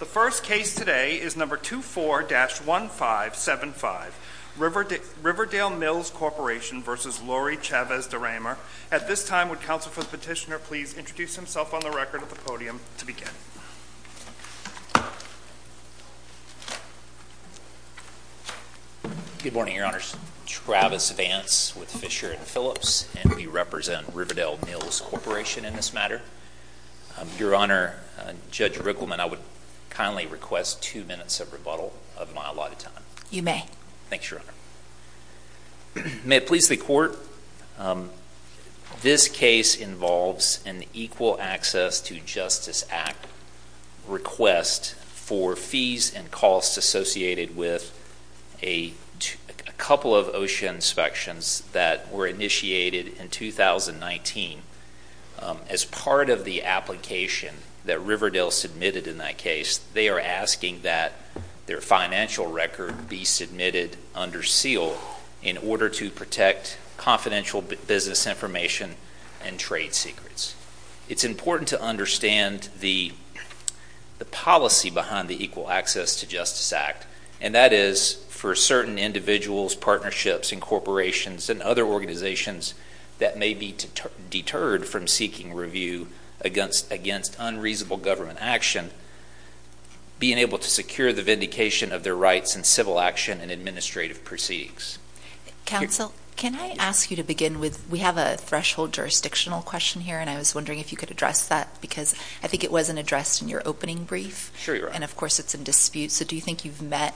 The first case today is number 24-1575, Riverdale Mills Corporation v. Laurie Chavez-DeRemer. At this time, would counsel for the petitioner please introduce himself on the record at the podium to begin. Good morning, Your Honors. Travis Vance with Fisher & Phillips, and we represent Riverdale Mills Corporation in this matter. Your Honor, Judge Rickleman, I would kindly request two minutes of rebuttal of my allotted time. You may. Thanks, Your Honor. May it please the Court, this case involves an Equal Access to Justice Act request for fees and costs associated with a couple of OSHA inspections that were initiated in 2019. As part of the application that Riverdale submitted in that case, they are asking that their financial record be submitted under seal in order to protect confidential business information and trade secrets. It's important to understand the policy behind the Equal Access to Justice Act, and that is for certain individuals, partnerships, and corporations and other organizations that may be deterred from seeking review against unreasonable government action, being able to secure the vindication of their rights in civil action and administrative proceedings. Counsel, can I ask you to begin with, we have a threshold jurisdictional question here, and I was wondering if you could address that because I think it wasn't addressed in your opening brief. Sure, Your Honor. And of course it's in dispute, so do you think you've met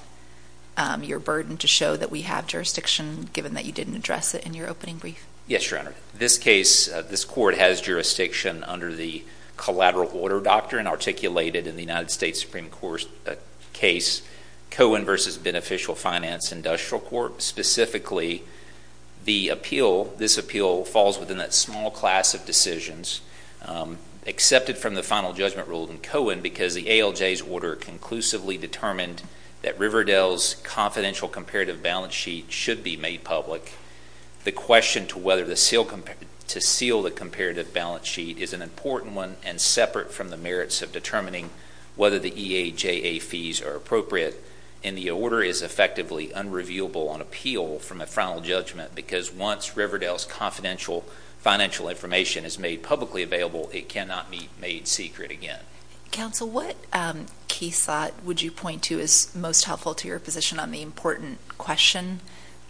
your burden to show that we have jurisdiction given that you didn't address it in your opening brief? Yes, Your Honor. This case, this court has jurisdiction under the collateral order doctrine articulated in the United States Supreme Court case Cohen v. Beneficial Finance Industrial Court. Specifically, this appeal falls within that small class of decisions accepted from the final judgment ruled in Cohen because the ALJ's order conclusively determined that Riverdale's confidential comparative balance sheet should be made public. The question to seal the comparative balance sheet is an important one and separate from the merits of determining whether the EAJA fees are appropriate, and the order is effectively unrevealable on appeal from a final judgment because once Riverdale's confidential financial information is made publicly available, it cannot be made secret again. Counsel, what case thought would you point to as most helpful to your position on the important question?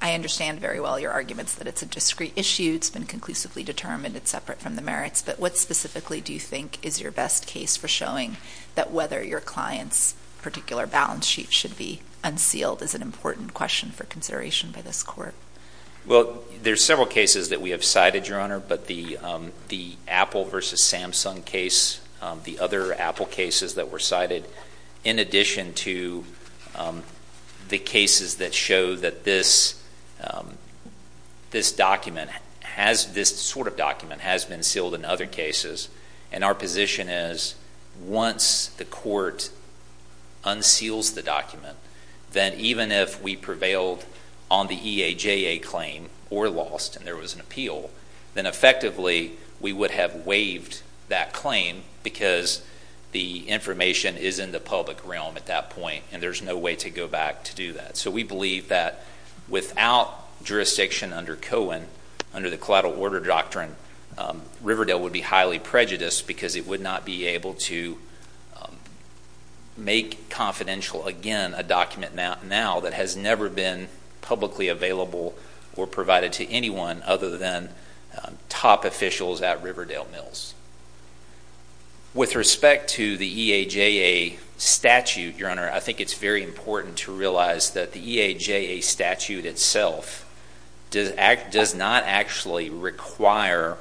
I understand very well your arguments that it's a discrete issue, it's been conclusively determined, it's separate from the merits, but what specifically do you think is your best case for showing that whether your client's particular balance sheet should be unsealed is an important question for consideration by this court? Well, there's several cases that we have cited, Your Honor, but the Apple versus Samsung case, the other Apple cases that were cited, in addition to the cases that show that this sort of document has been sealed in other cases, and our position is once the court unseals the document, then even if we prevailed on the EAJA claim or lost and there was an appeal, then effectively we would have waived that claim because the information is in the public realm at that point and there's no way to go back to do that. So we believe that without jurisdiction under Cohen, under the collateral order doctrine, Riverdale would be highly prejudiced because it would not be able to make confidential again a document now that has never been publicly available or provided to anyone other than top officials at Riverdale Mills. With respect to the EAJA statute, Your Honor, I think it's very important to realize that the EAJA statute itself does not actually require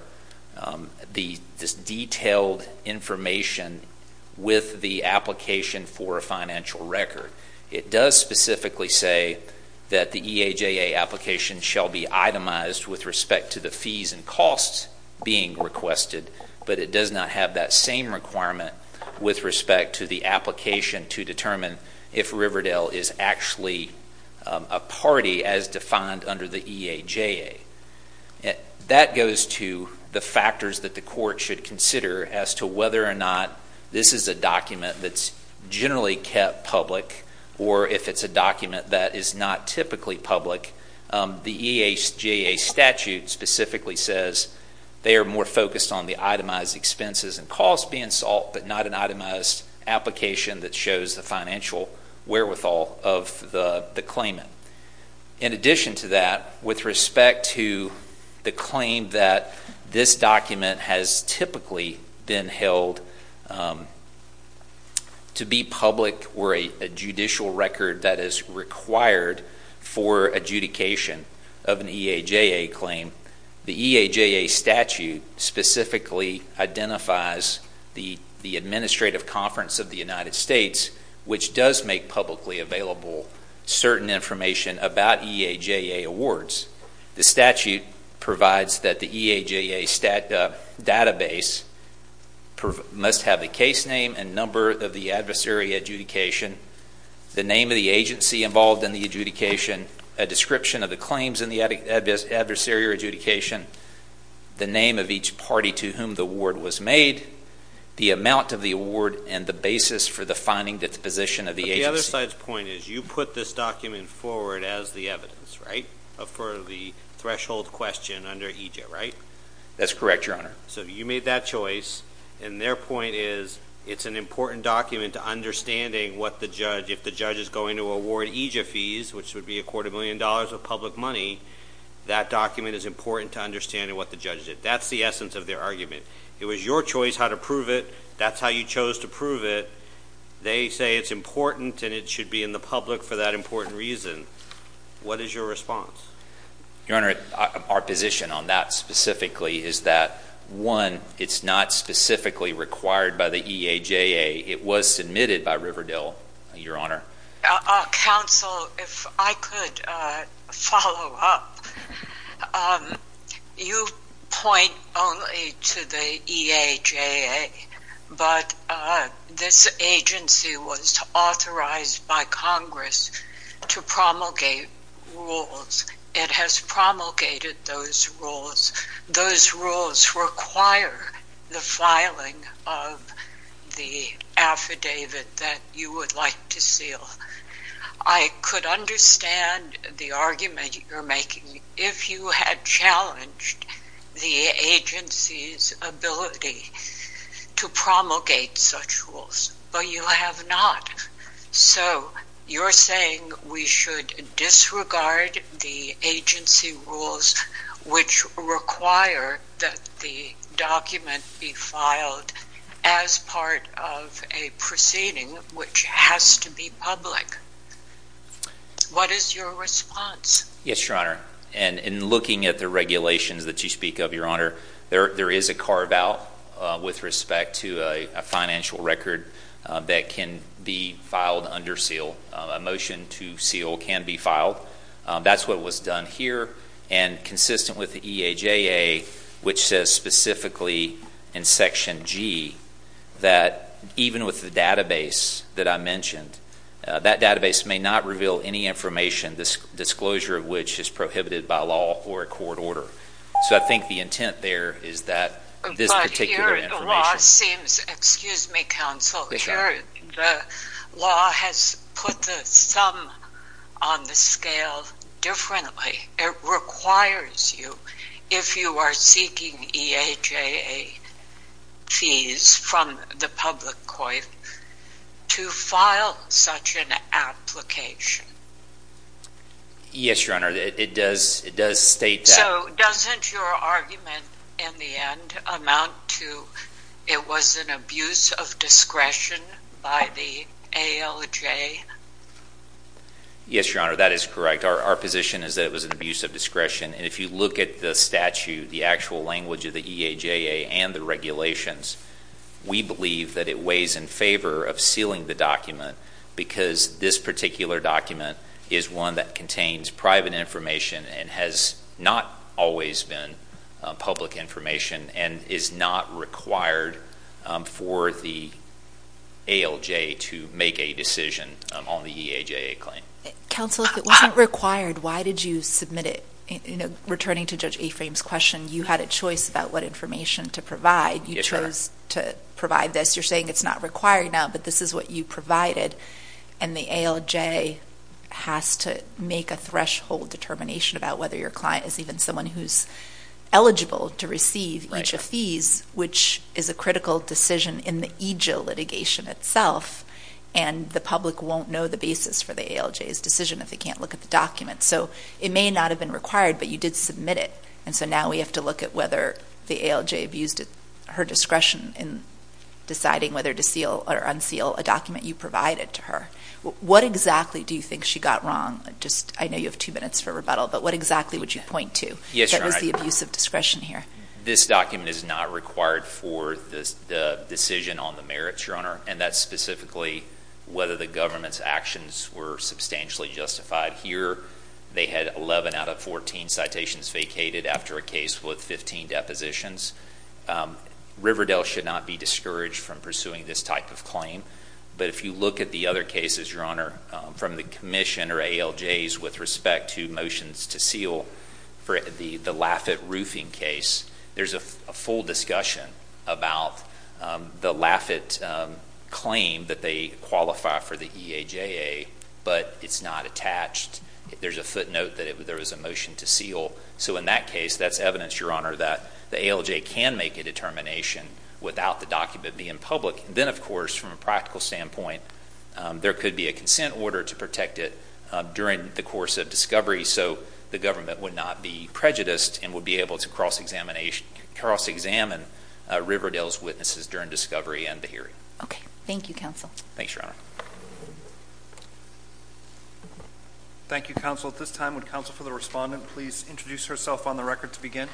this detailed information with the application for a financial record. It does specifically say that the EAJA application shall be itemized with respect to the fees and costs being requested, but it does not have that same requirement with respect to the application to determine if Riverdale is actually a party as defined under the EAJA. That goes to the factors that the court should consider as to whether or not this is a document that's generally kept public or if it's a document that is not typically public. The EAJA statute specifically says they are more focused on the itemized expenses and costs being sought, but not an itemized application that shows the financial wherewithal of the claimant. In addition to that, with respect to the claim that this document has typically been held to be public or a judicial record that is required for adjudication of an EAJA claim, the EAJA statute specifically identifies the Administrative Conference of the United States, which does make publicly available certain information about EAJA awards. The statute provides that the EAJA database must have the case name and number of the adversary adjudication, the name of the agency involved in the adjudication, a description of the claims in the adversary adjudication, the name of each party to whom the award was made, the amount of the award, and the basis for the finding disposition of the agency. The other side's point is you put this document forward as the evidence, right, for the threshold question under EAJA, right? That's correct, Your Honor. So you made that choice, and their point is it's an important document to understanding what the judge, if the judge is going to award EAJA fees, which would be a quarter million dollars of public money, that document is important to understanding what the judge did. That's the essence of their argument. It was your choice how to prove it. That's how you chose to prove it. They say it's important and it should be in the public for that important reason. What is your response? Your Honor, our position on that specifically is that, one, it's not specifically required by the EAJA. It was submitted by Riverdale, Your Honor. Counsel, if I could follow up, you point only to the EAJA, but this agency was authorized by Congress to promulgate rules. It has promulgated those rules. Those rules require the filing of the affidavit that you would like to seal. I could understand the argument you're making if you had challenged the agency's ability to promulgate such rules, but you have not. So you're saying we should disregard the agency rules which require that the document be filed as part of a proceeding which has to be public. What is your response? Yes, Your Honor. In looking at the regulations that you speak of, Your Honor, there is a carve-out with respect to a financial record that can be filed under seal. A motion to seal can be filed. That's what was done here and consistent with the EAJA, which says specifically in Section G that even with the database that I mentioned, that database may not reveal any information, the disclosure of which is prohibited by law or a court order. So I think the intent there is that this particular information… Excuse me, Counsel. Sure. The law has put the sum on the scale differently. It requires you, if you are seeking EAJA fees from the public court, to file such an application. Yes, Your Honor. It does state that. So doesn't your argument in the end amount to it was an abuse of discretion by the ALJ? Yes, Your Honor. That is correct. Our position is that it was an abuse of discretion, and if you look at the statute, the actual language of the EAJA and the regulations, we believe that it weighs in favor of sealing the document because this particular document is one that contains private information and has not always been public information and is not required for the ALJ to make a decision on the EAJA claim. Counsel, if it wasn't required, why did you submit it? Returning to Judge Aframe's question, you had a choice about what information to provide. You chose to provide this. You're saying it's not required now, but this is what you provided, and the ALJ has to make a threshold determination about whether your client is even someone who's eligible to receive EAJA fees, which is a critical decision in the EAJA litigation itself, and the public won't know the basis for the ALJ's decision if they can't look at the document. So it may not have been required, but you did submit it, and so now we have to look at whether the ALJ abused her discretion in deciding whether to seal or unseal a document you provided to her. What exactly do you think she got wrong? I know you have two minutes for rebuttal, but what exactly would you point to that was the abuse of discretion here? This document is not required for the decision on the merits, Your Honor, and that's specifically whether the government's actions were substantially justified here. They had 11 out of 14 citations vacated after a case with 15 depositions. Riverdale should not be discouraged from pursuing this type of claim, but if you look at the other cases, Your Honor, from the commission or ALJs with respect to motions to seal for the Laffitt roofing case, there's a full discussion about the Laffitt claim that they qualify for the EAJA, but it's not attached. There's a footnote that there was a motion to seal. So in that case, that's evidence, Your Honor, that the ALJ can make a determination without the document being public. Then, of course, from a practical standpoint, there could be a consent order to protect it during the course of discovery so the government would not be prejudiced and would be able to cross-examine Riverdale's witnesses during discovery and the hearing. Okay. Thank you, Counsel. Thanks, Your Honor. Thank you, Counsel. At this time, would Counsel for the Respondent please introduce herself on the record to begin?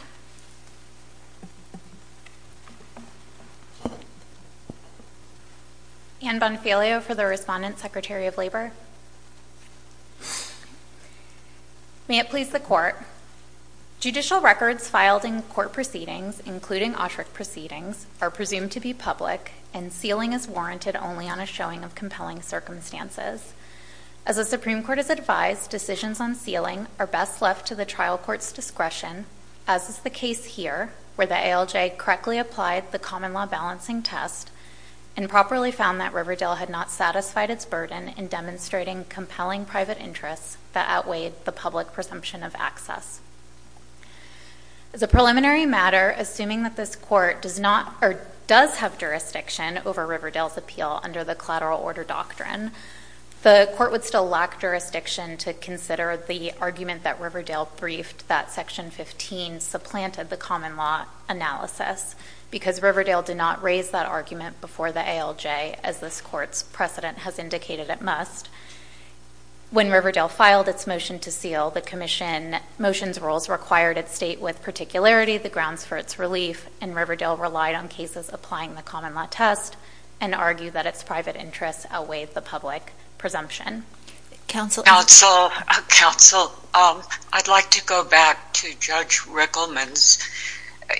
Ann Bonfilio for the Respondent, Secretary of Labor. May it please the Court. Judicial records filed in court proceedings, including Autry proceedings, are presumed to be public, and sealing is warranted only on a showing of compelling circumstances. As the Supreme Court has advised, decisions on sealing are best left to the trial court's discretion as is the case here where the ALJ correctly applied the common law balancing test and properly found that Riverdale had not satisfied its burden in demonstrating compelling private interests that outweighed the public presumption of access. As a preliminary matter, assuming that this Court does have jurisdiction over Riverdale's appeal under the collateral order doctrine, the Court would still lack jurisdiction to consider the argument that Riverdale briefed that Section 15 supplanted the common law analysis because Riverdale did not raise that argument before the ALJ, as this Court's precedent has indicated it must. When Riverdale filed its motion to seal, the commission's rules required it state with particularity the grounds for its relief, and Riverdale relied on cases applying the common law test and argued that its private interests outweighed the public presumption. Counsel? Counsel, I'd like to go back to Judge Rickleman's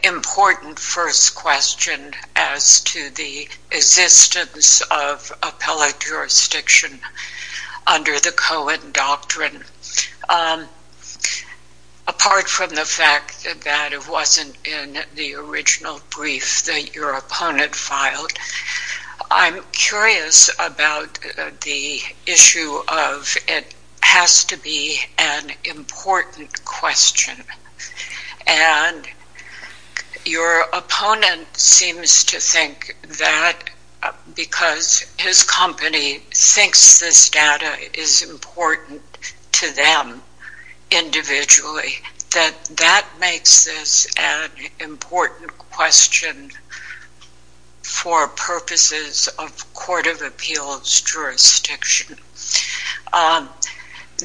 important first question as to the existence of appellate jurisdiction under the Cohen doctrine. Apart from the fact that it wasn't in the original brief that your opponent filed, I'm curious about the issue of it has to be an important question. Your opponent seems to think that because his company thinks this data is important to them individually, that that makes this an important question for purposes of court of appeals jurisdiction.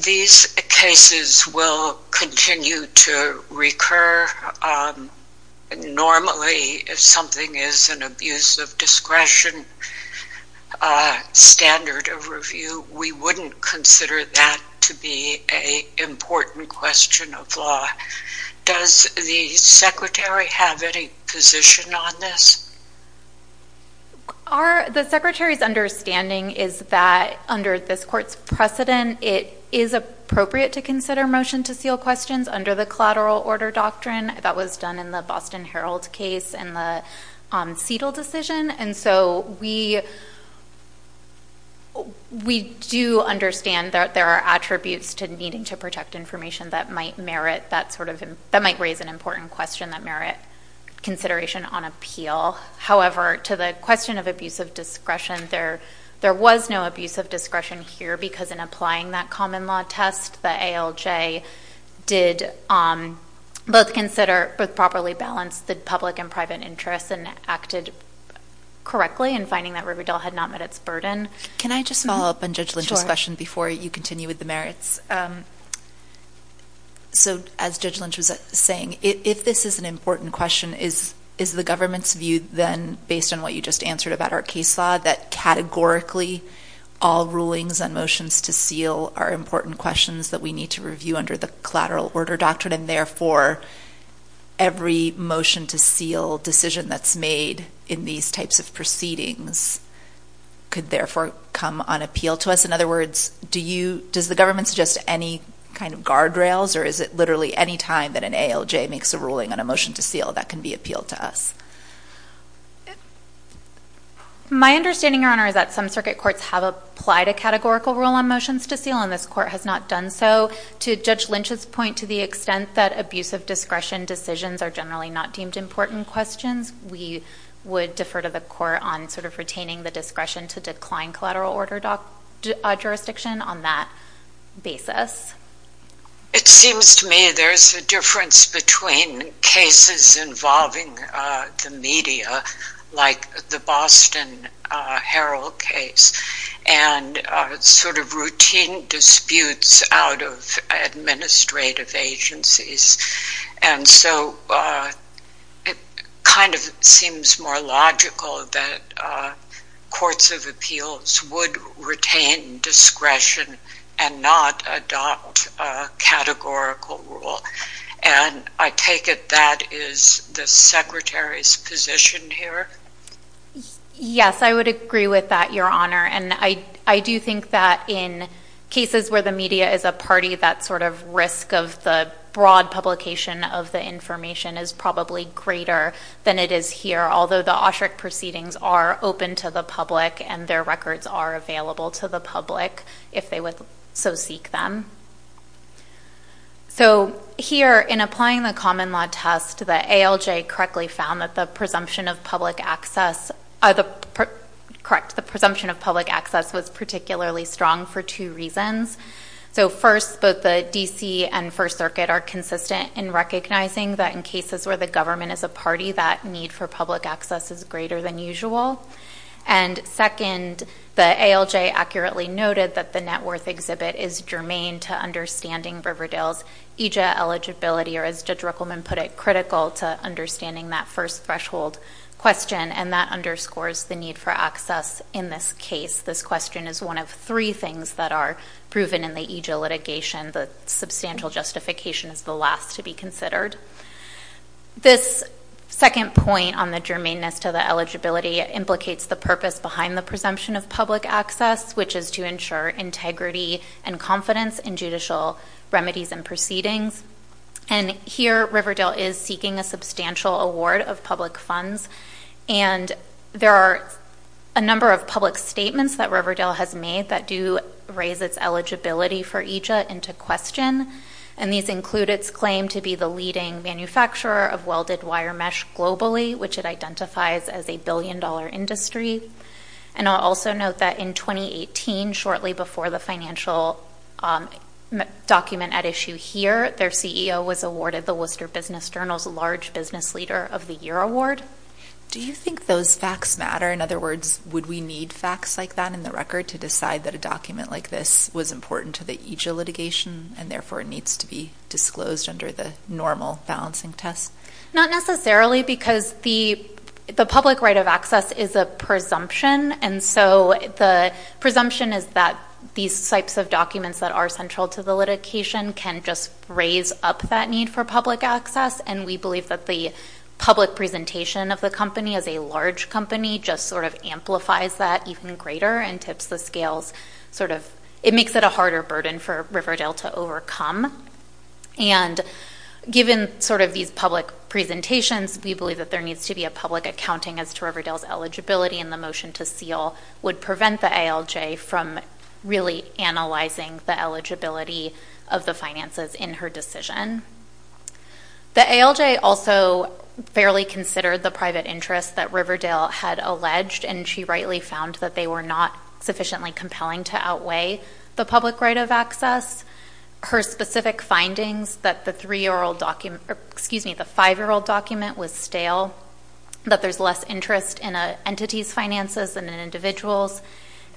These cases will continue to recur. Normally, if something is an abuse of discretion standard of review, we wouldn't consider that to be an important question of law. Does the Secretary have any position on this? The Secretary's understanding is that under this Court's precedent, it is appropriate to consider motion to seal questions under the collateral order doctrine that was done in the Boston Herald case and the CETL decision. We do understand that there are attributes to needing to protect information that might raise an important question that merit consideration on appeal. However, to the question of abuse of discretion, there was no abuse of discretion here because in applying that common law test, the ALJ did both properly balance the public and private interests and acted correctly in finding that Riverdale had not met its burden. Can I just follow up on Judge Lynch's question before you continue with the merits? Yes. As Judge Lynch was saying, if this is an important question, is the government's view then, based on what you just answered about our case law, that categorically all rulings and motions to seal are important questions that we need to review under the collateral order doctrine, and therefore every motion to seal decision that's made in these types of proceedings could therefore come on appeal to us? In other words, does the government suggest any kind of guardrails, or is it literally any time that an ALJ makes a ruling on a motion to seal that can be appealed to us? My understanding, Your Honor, is that some circuit courts have applied a categorical rule on motions to seal, and this court has not done so. To Judge Lynch's point, to the extent that abuse of discretion decisions are generally not deemed important questions, we would defer to the court on sort of retaining the discretion to decline collateral order jurisdiction on that basis. It seems to me there's a difference between cases involving the media, like the Boston Herald case, and sort of routine disputes out of administrative agencies. And so it kind of seems more logical that courts of appeals would retain discretion and not adopt a categorical rule. And I take it that is the Secretary's position here? Yes, I would agree with that, Your Honor. And I do think that in cases where the media is a party, that sort of risk of the broad publication of the information is probably greater than it is here, although the OSHRC proceedings are open to the public and their records are available to the public if they would so seek them. So here, in applying the common law test, the ALJ correctly found that the presumption of public access was particularly strong for two reasons. So first, both the D.C. and First Circuit are consistent in recognizing that in cases where the government is a party, that need for public access is greater than usual. And second, the ALJ accurately noted that the net worth exhibit is germane to understanding Riverdale's EJIA eligibility, or as Judge Ruckelman put it, critical to understanding that first threshold question, and that underscores the need for access in this case. This question is one of three things that are proven in the EJIA litigation. The substantial justification is the last to be considered. This second point on the germaneness to the eligibility implicates the purpose behind the presumption of public access, which is to ensure integrity and confidence in judicial remedies and proceedings. And here, Riverdale is seeking a substantial award of public funds, and there are a number of public statements that Riverdale has made that do raise its eligibility for EJIA into question, and these include its claim to be the leading manufacturer of welded wire mesh globally, which it identifies as a billion-dollar industry. And I'll also note that in 2018, shortly before the financial document at issue here, their CEO was awarded the Worcester Business Journal's large business leader of the year award. Do you think those facts matter? In other words, would we need facts like that in the record to decide that a document like this was important to the EJIA litigation, and therefore needs to be disclosed under the normal balancing test? Not necessarily, because the public right of access is a presumption, and so the presumption is that these types of documents that are central to the litigation can just raise up that need for public access, and we believe that the public presentation of the company as a large company just sort of amplifies that even greater and tips the scales sort of ‑‑ it makes it a harder burden for Riverdale to overcome. And given sort of these public presentations, we believe that there needs to be a public accounting as to Riverdale's eligibility, and the motion to seal would prevent the ALJ from really analyzing the eligibility of the finances in her decision. The ALJ also fairly considered the private interests that Riverdale had alleged, and she rightly found that they were not sufficiently compelling to outweigh the public right of access. Her specific findings that the five‑year‑old document was stale, that there's less interest in an entity's finances than in individuals,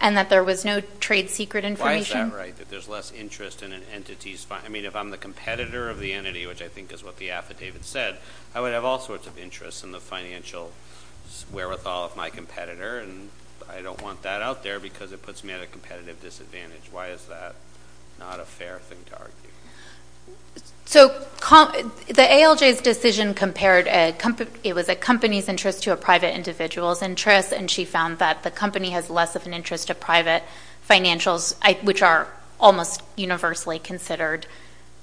and that there was no trade secret information. Why is that right, that there's less interest in an entity's ‑‑ I mean, if I'm the competitor of the entity, which I think is what the affidavit said, I would have all sorts of interests in the financial wherewithal of my competitor, and I don't want that out there because it puts me at a competitive disadvantage. Why is that not a fair thing to argue? So the ALJ's decision compared a company ‑‑ it was a company's interest to a private individual's interest, and she found that the company has less of an interest to private financials, which are almost universally considered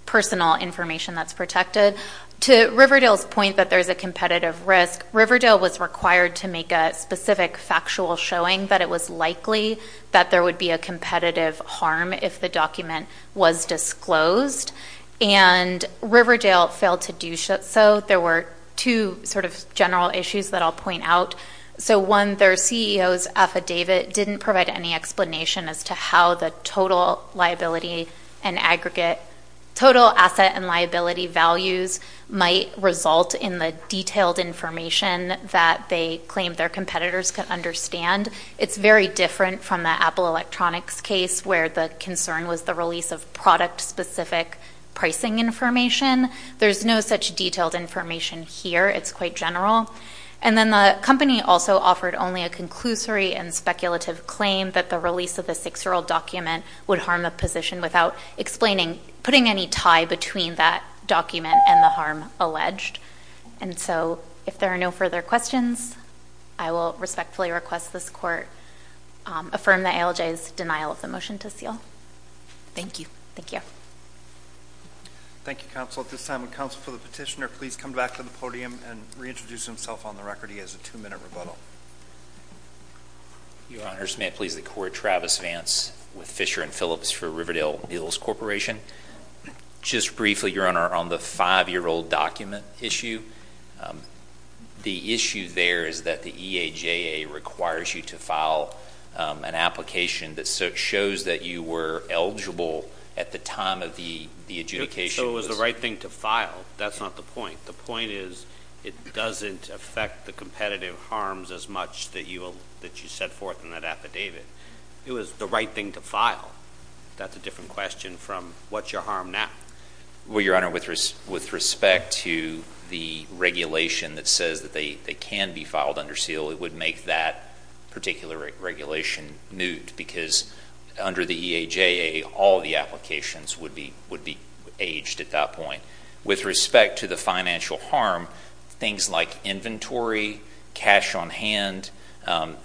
personal information that's protected. To Riverdale's point that there's a competitive risk, Riverdale was required to make a specific factual showing that it was likely that there would be a competitive harm if the document was disclosed, and Riverdale failed to do so. There were two sort of general issues that I'll point out. So one, their CEO's affidavit didn't provide any explanation as to how the total liability and aggregate ‑‑ total asset and liability values might result in the detailed information that they claimed their competitors could understand. It's very different from the Apple Electronics case where the concern was the release of product‑specific pricing information. There's no such detailed information here. It's quite general. And then the company also offered only a conclusory and speculative claim that the release of the six‑year‑old document would harm the position without explaining ‑‑ putting any tie between that document and the harm alleged. And so if there are no further questions, I will respectfully request this court affirm the ALJ's denial of the motion to seal. Thank you. Thank you. Thank you, counsel. At this time, would counsel for the petitioner please come back to the podium and reintroduce himself on the record? He has a two‑minute rebuttal. Your Honors, may it please the court, Travis Vance with Fisher and Phillips for Riverdale Meals Corporation. Just briefly, Your Honor, on the five‑year‑old document issue, the issue there is that the EAJA requires you to file an application that shows that you were eligible at the time of the adjudication. So it was the right thing to file. That's not the point. The point is it doesn't affect the competitive harms as much that you set forth in that affidavit. It was the right thing to file. That's a different question from what's your harm now. Well, Your Honor, with respect to the regulation that says that they can be filed under seal, it would make that particular regulation moot because under the EAJA all the applications would be aged at that point. With respect to the financial harm, things like inventory, cash on hand,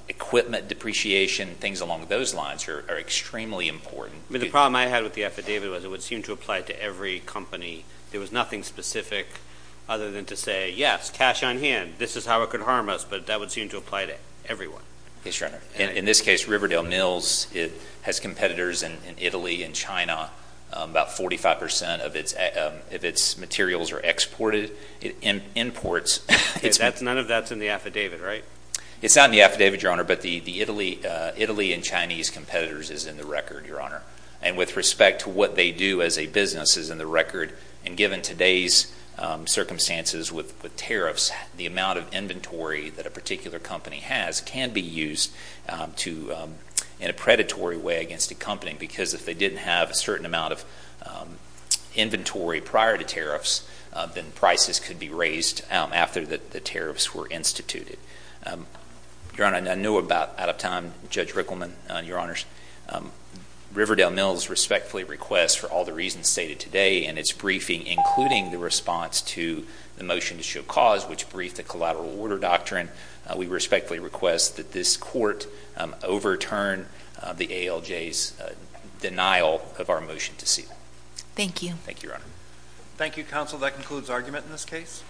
equipment depreciation, things along those lines are extremely important. The problem I had with the affidavit was it would seem to apply to every company. There was nothing specific other than to say, yes, cash on hand, this is how it could harm us, but that would seem to apply to everyone. Yes, Your Honor. In this case, Riverdale Meals has competitors in Italy and China. About 45% of its materials are exported, imports. None of that's in the affidavit, right? It's not in the affidavit, Your Honor, but the Italy and Chinese competitors is in the record, Your Honor. And with respect to what they do as a business is in the record, and given today's circumstances with tariffs, the amount of inventory that a particular company has can be used in a predatory way against a company because if they didn't have a certain amount of inventory prior to tariffs, then prices could be raised after the tariffs were instituted. Your Honor, I know about, out of time, Judge Rickleman, Your Honors, Riverdale Meals respectfully requests for all the reasons stated today in its briefing, including the response to the motion to show cause, which briefed the collateral order doctrine, we respectfully request that this court overturn the ALJ's denial of our motion to seal. Thank you. Thank you, Your Honor. Thank you, counsel. That concludes argument in this case.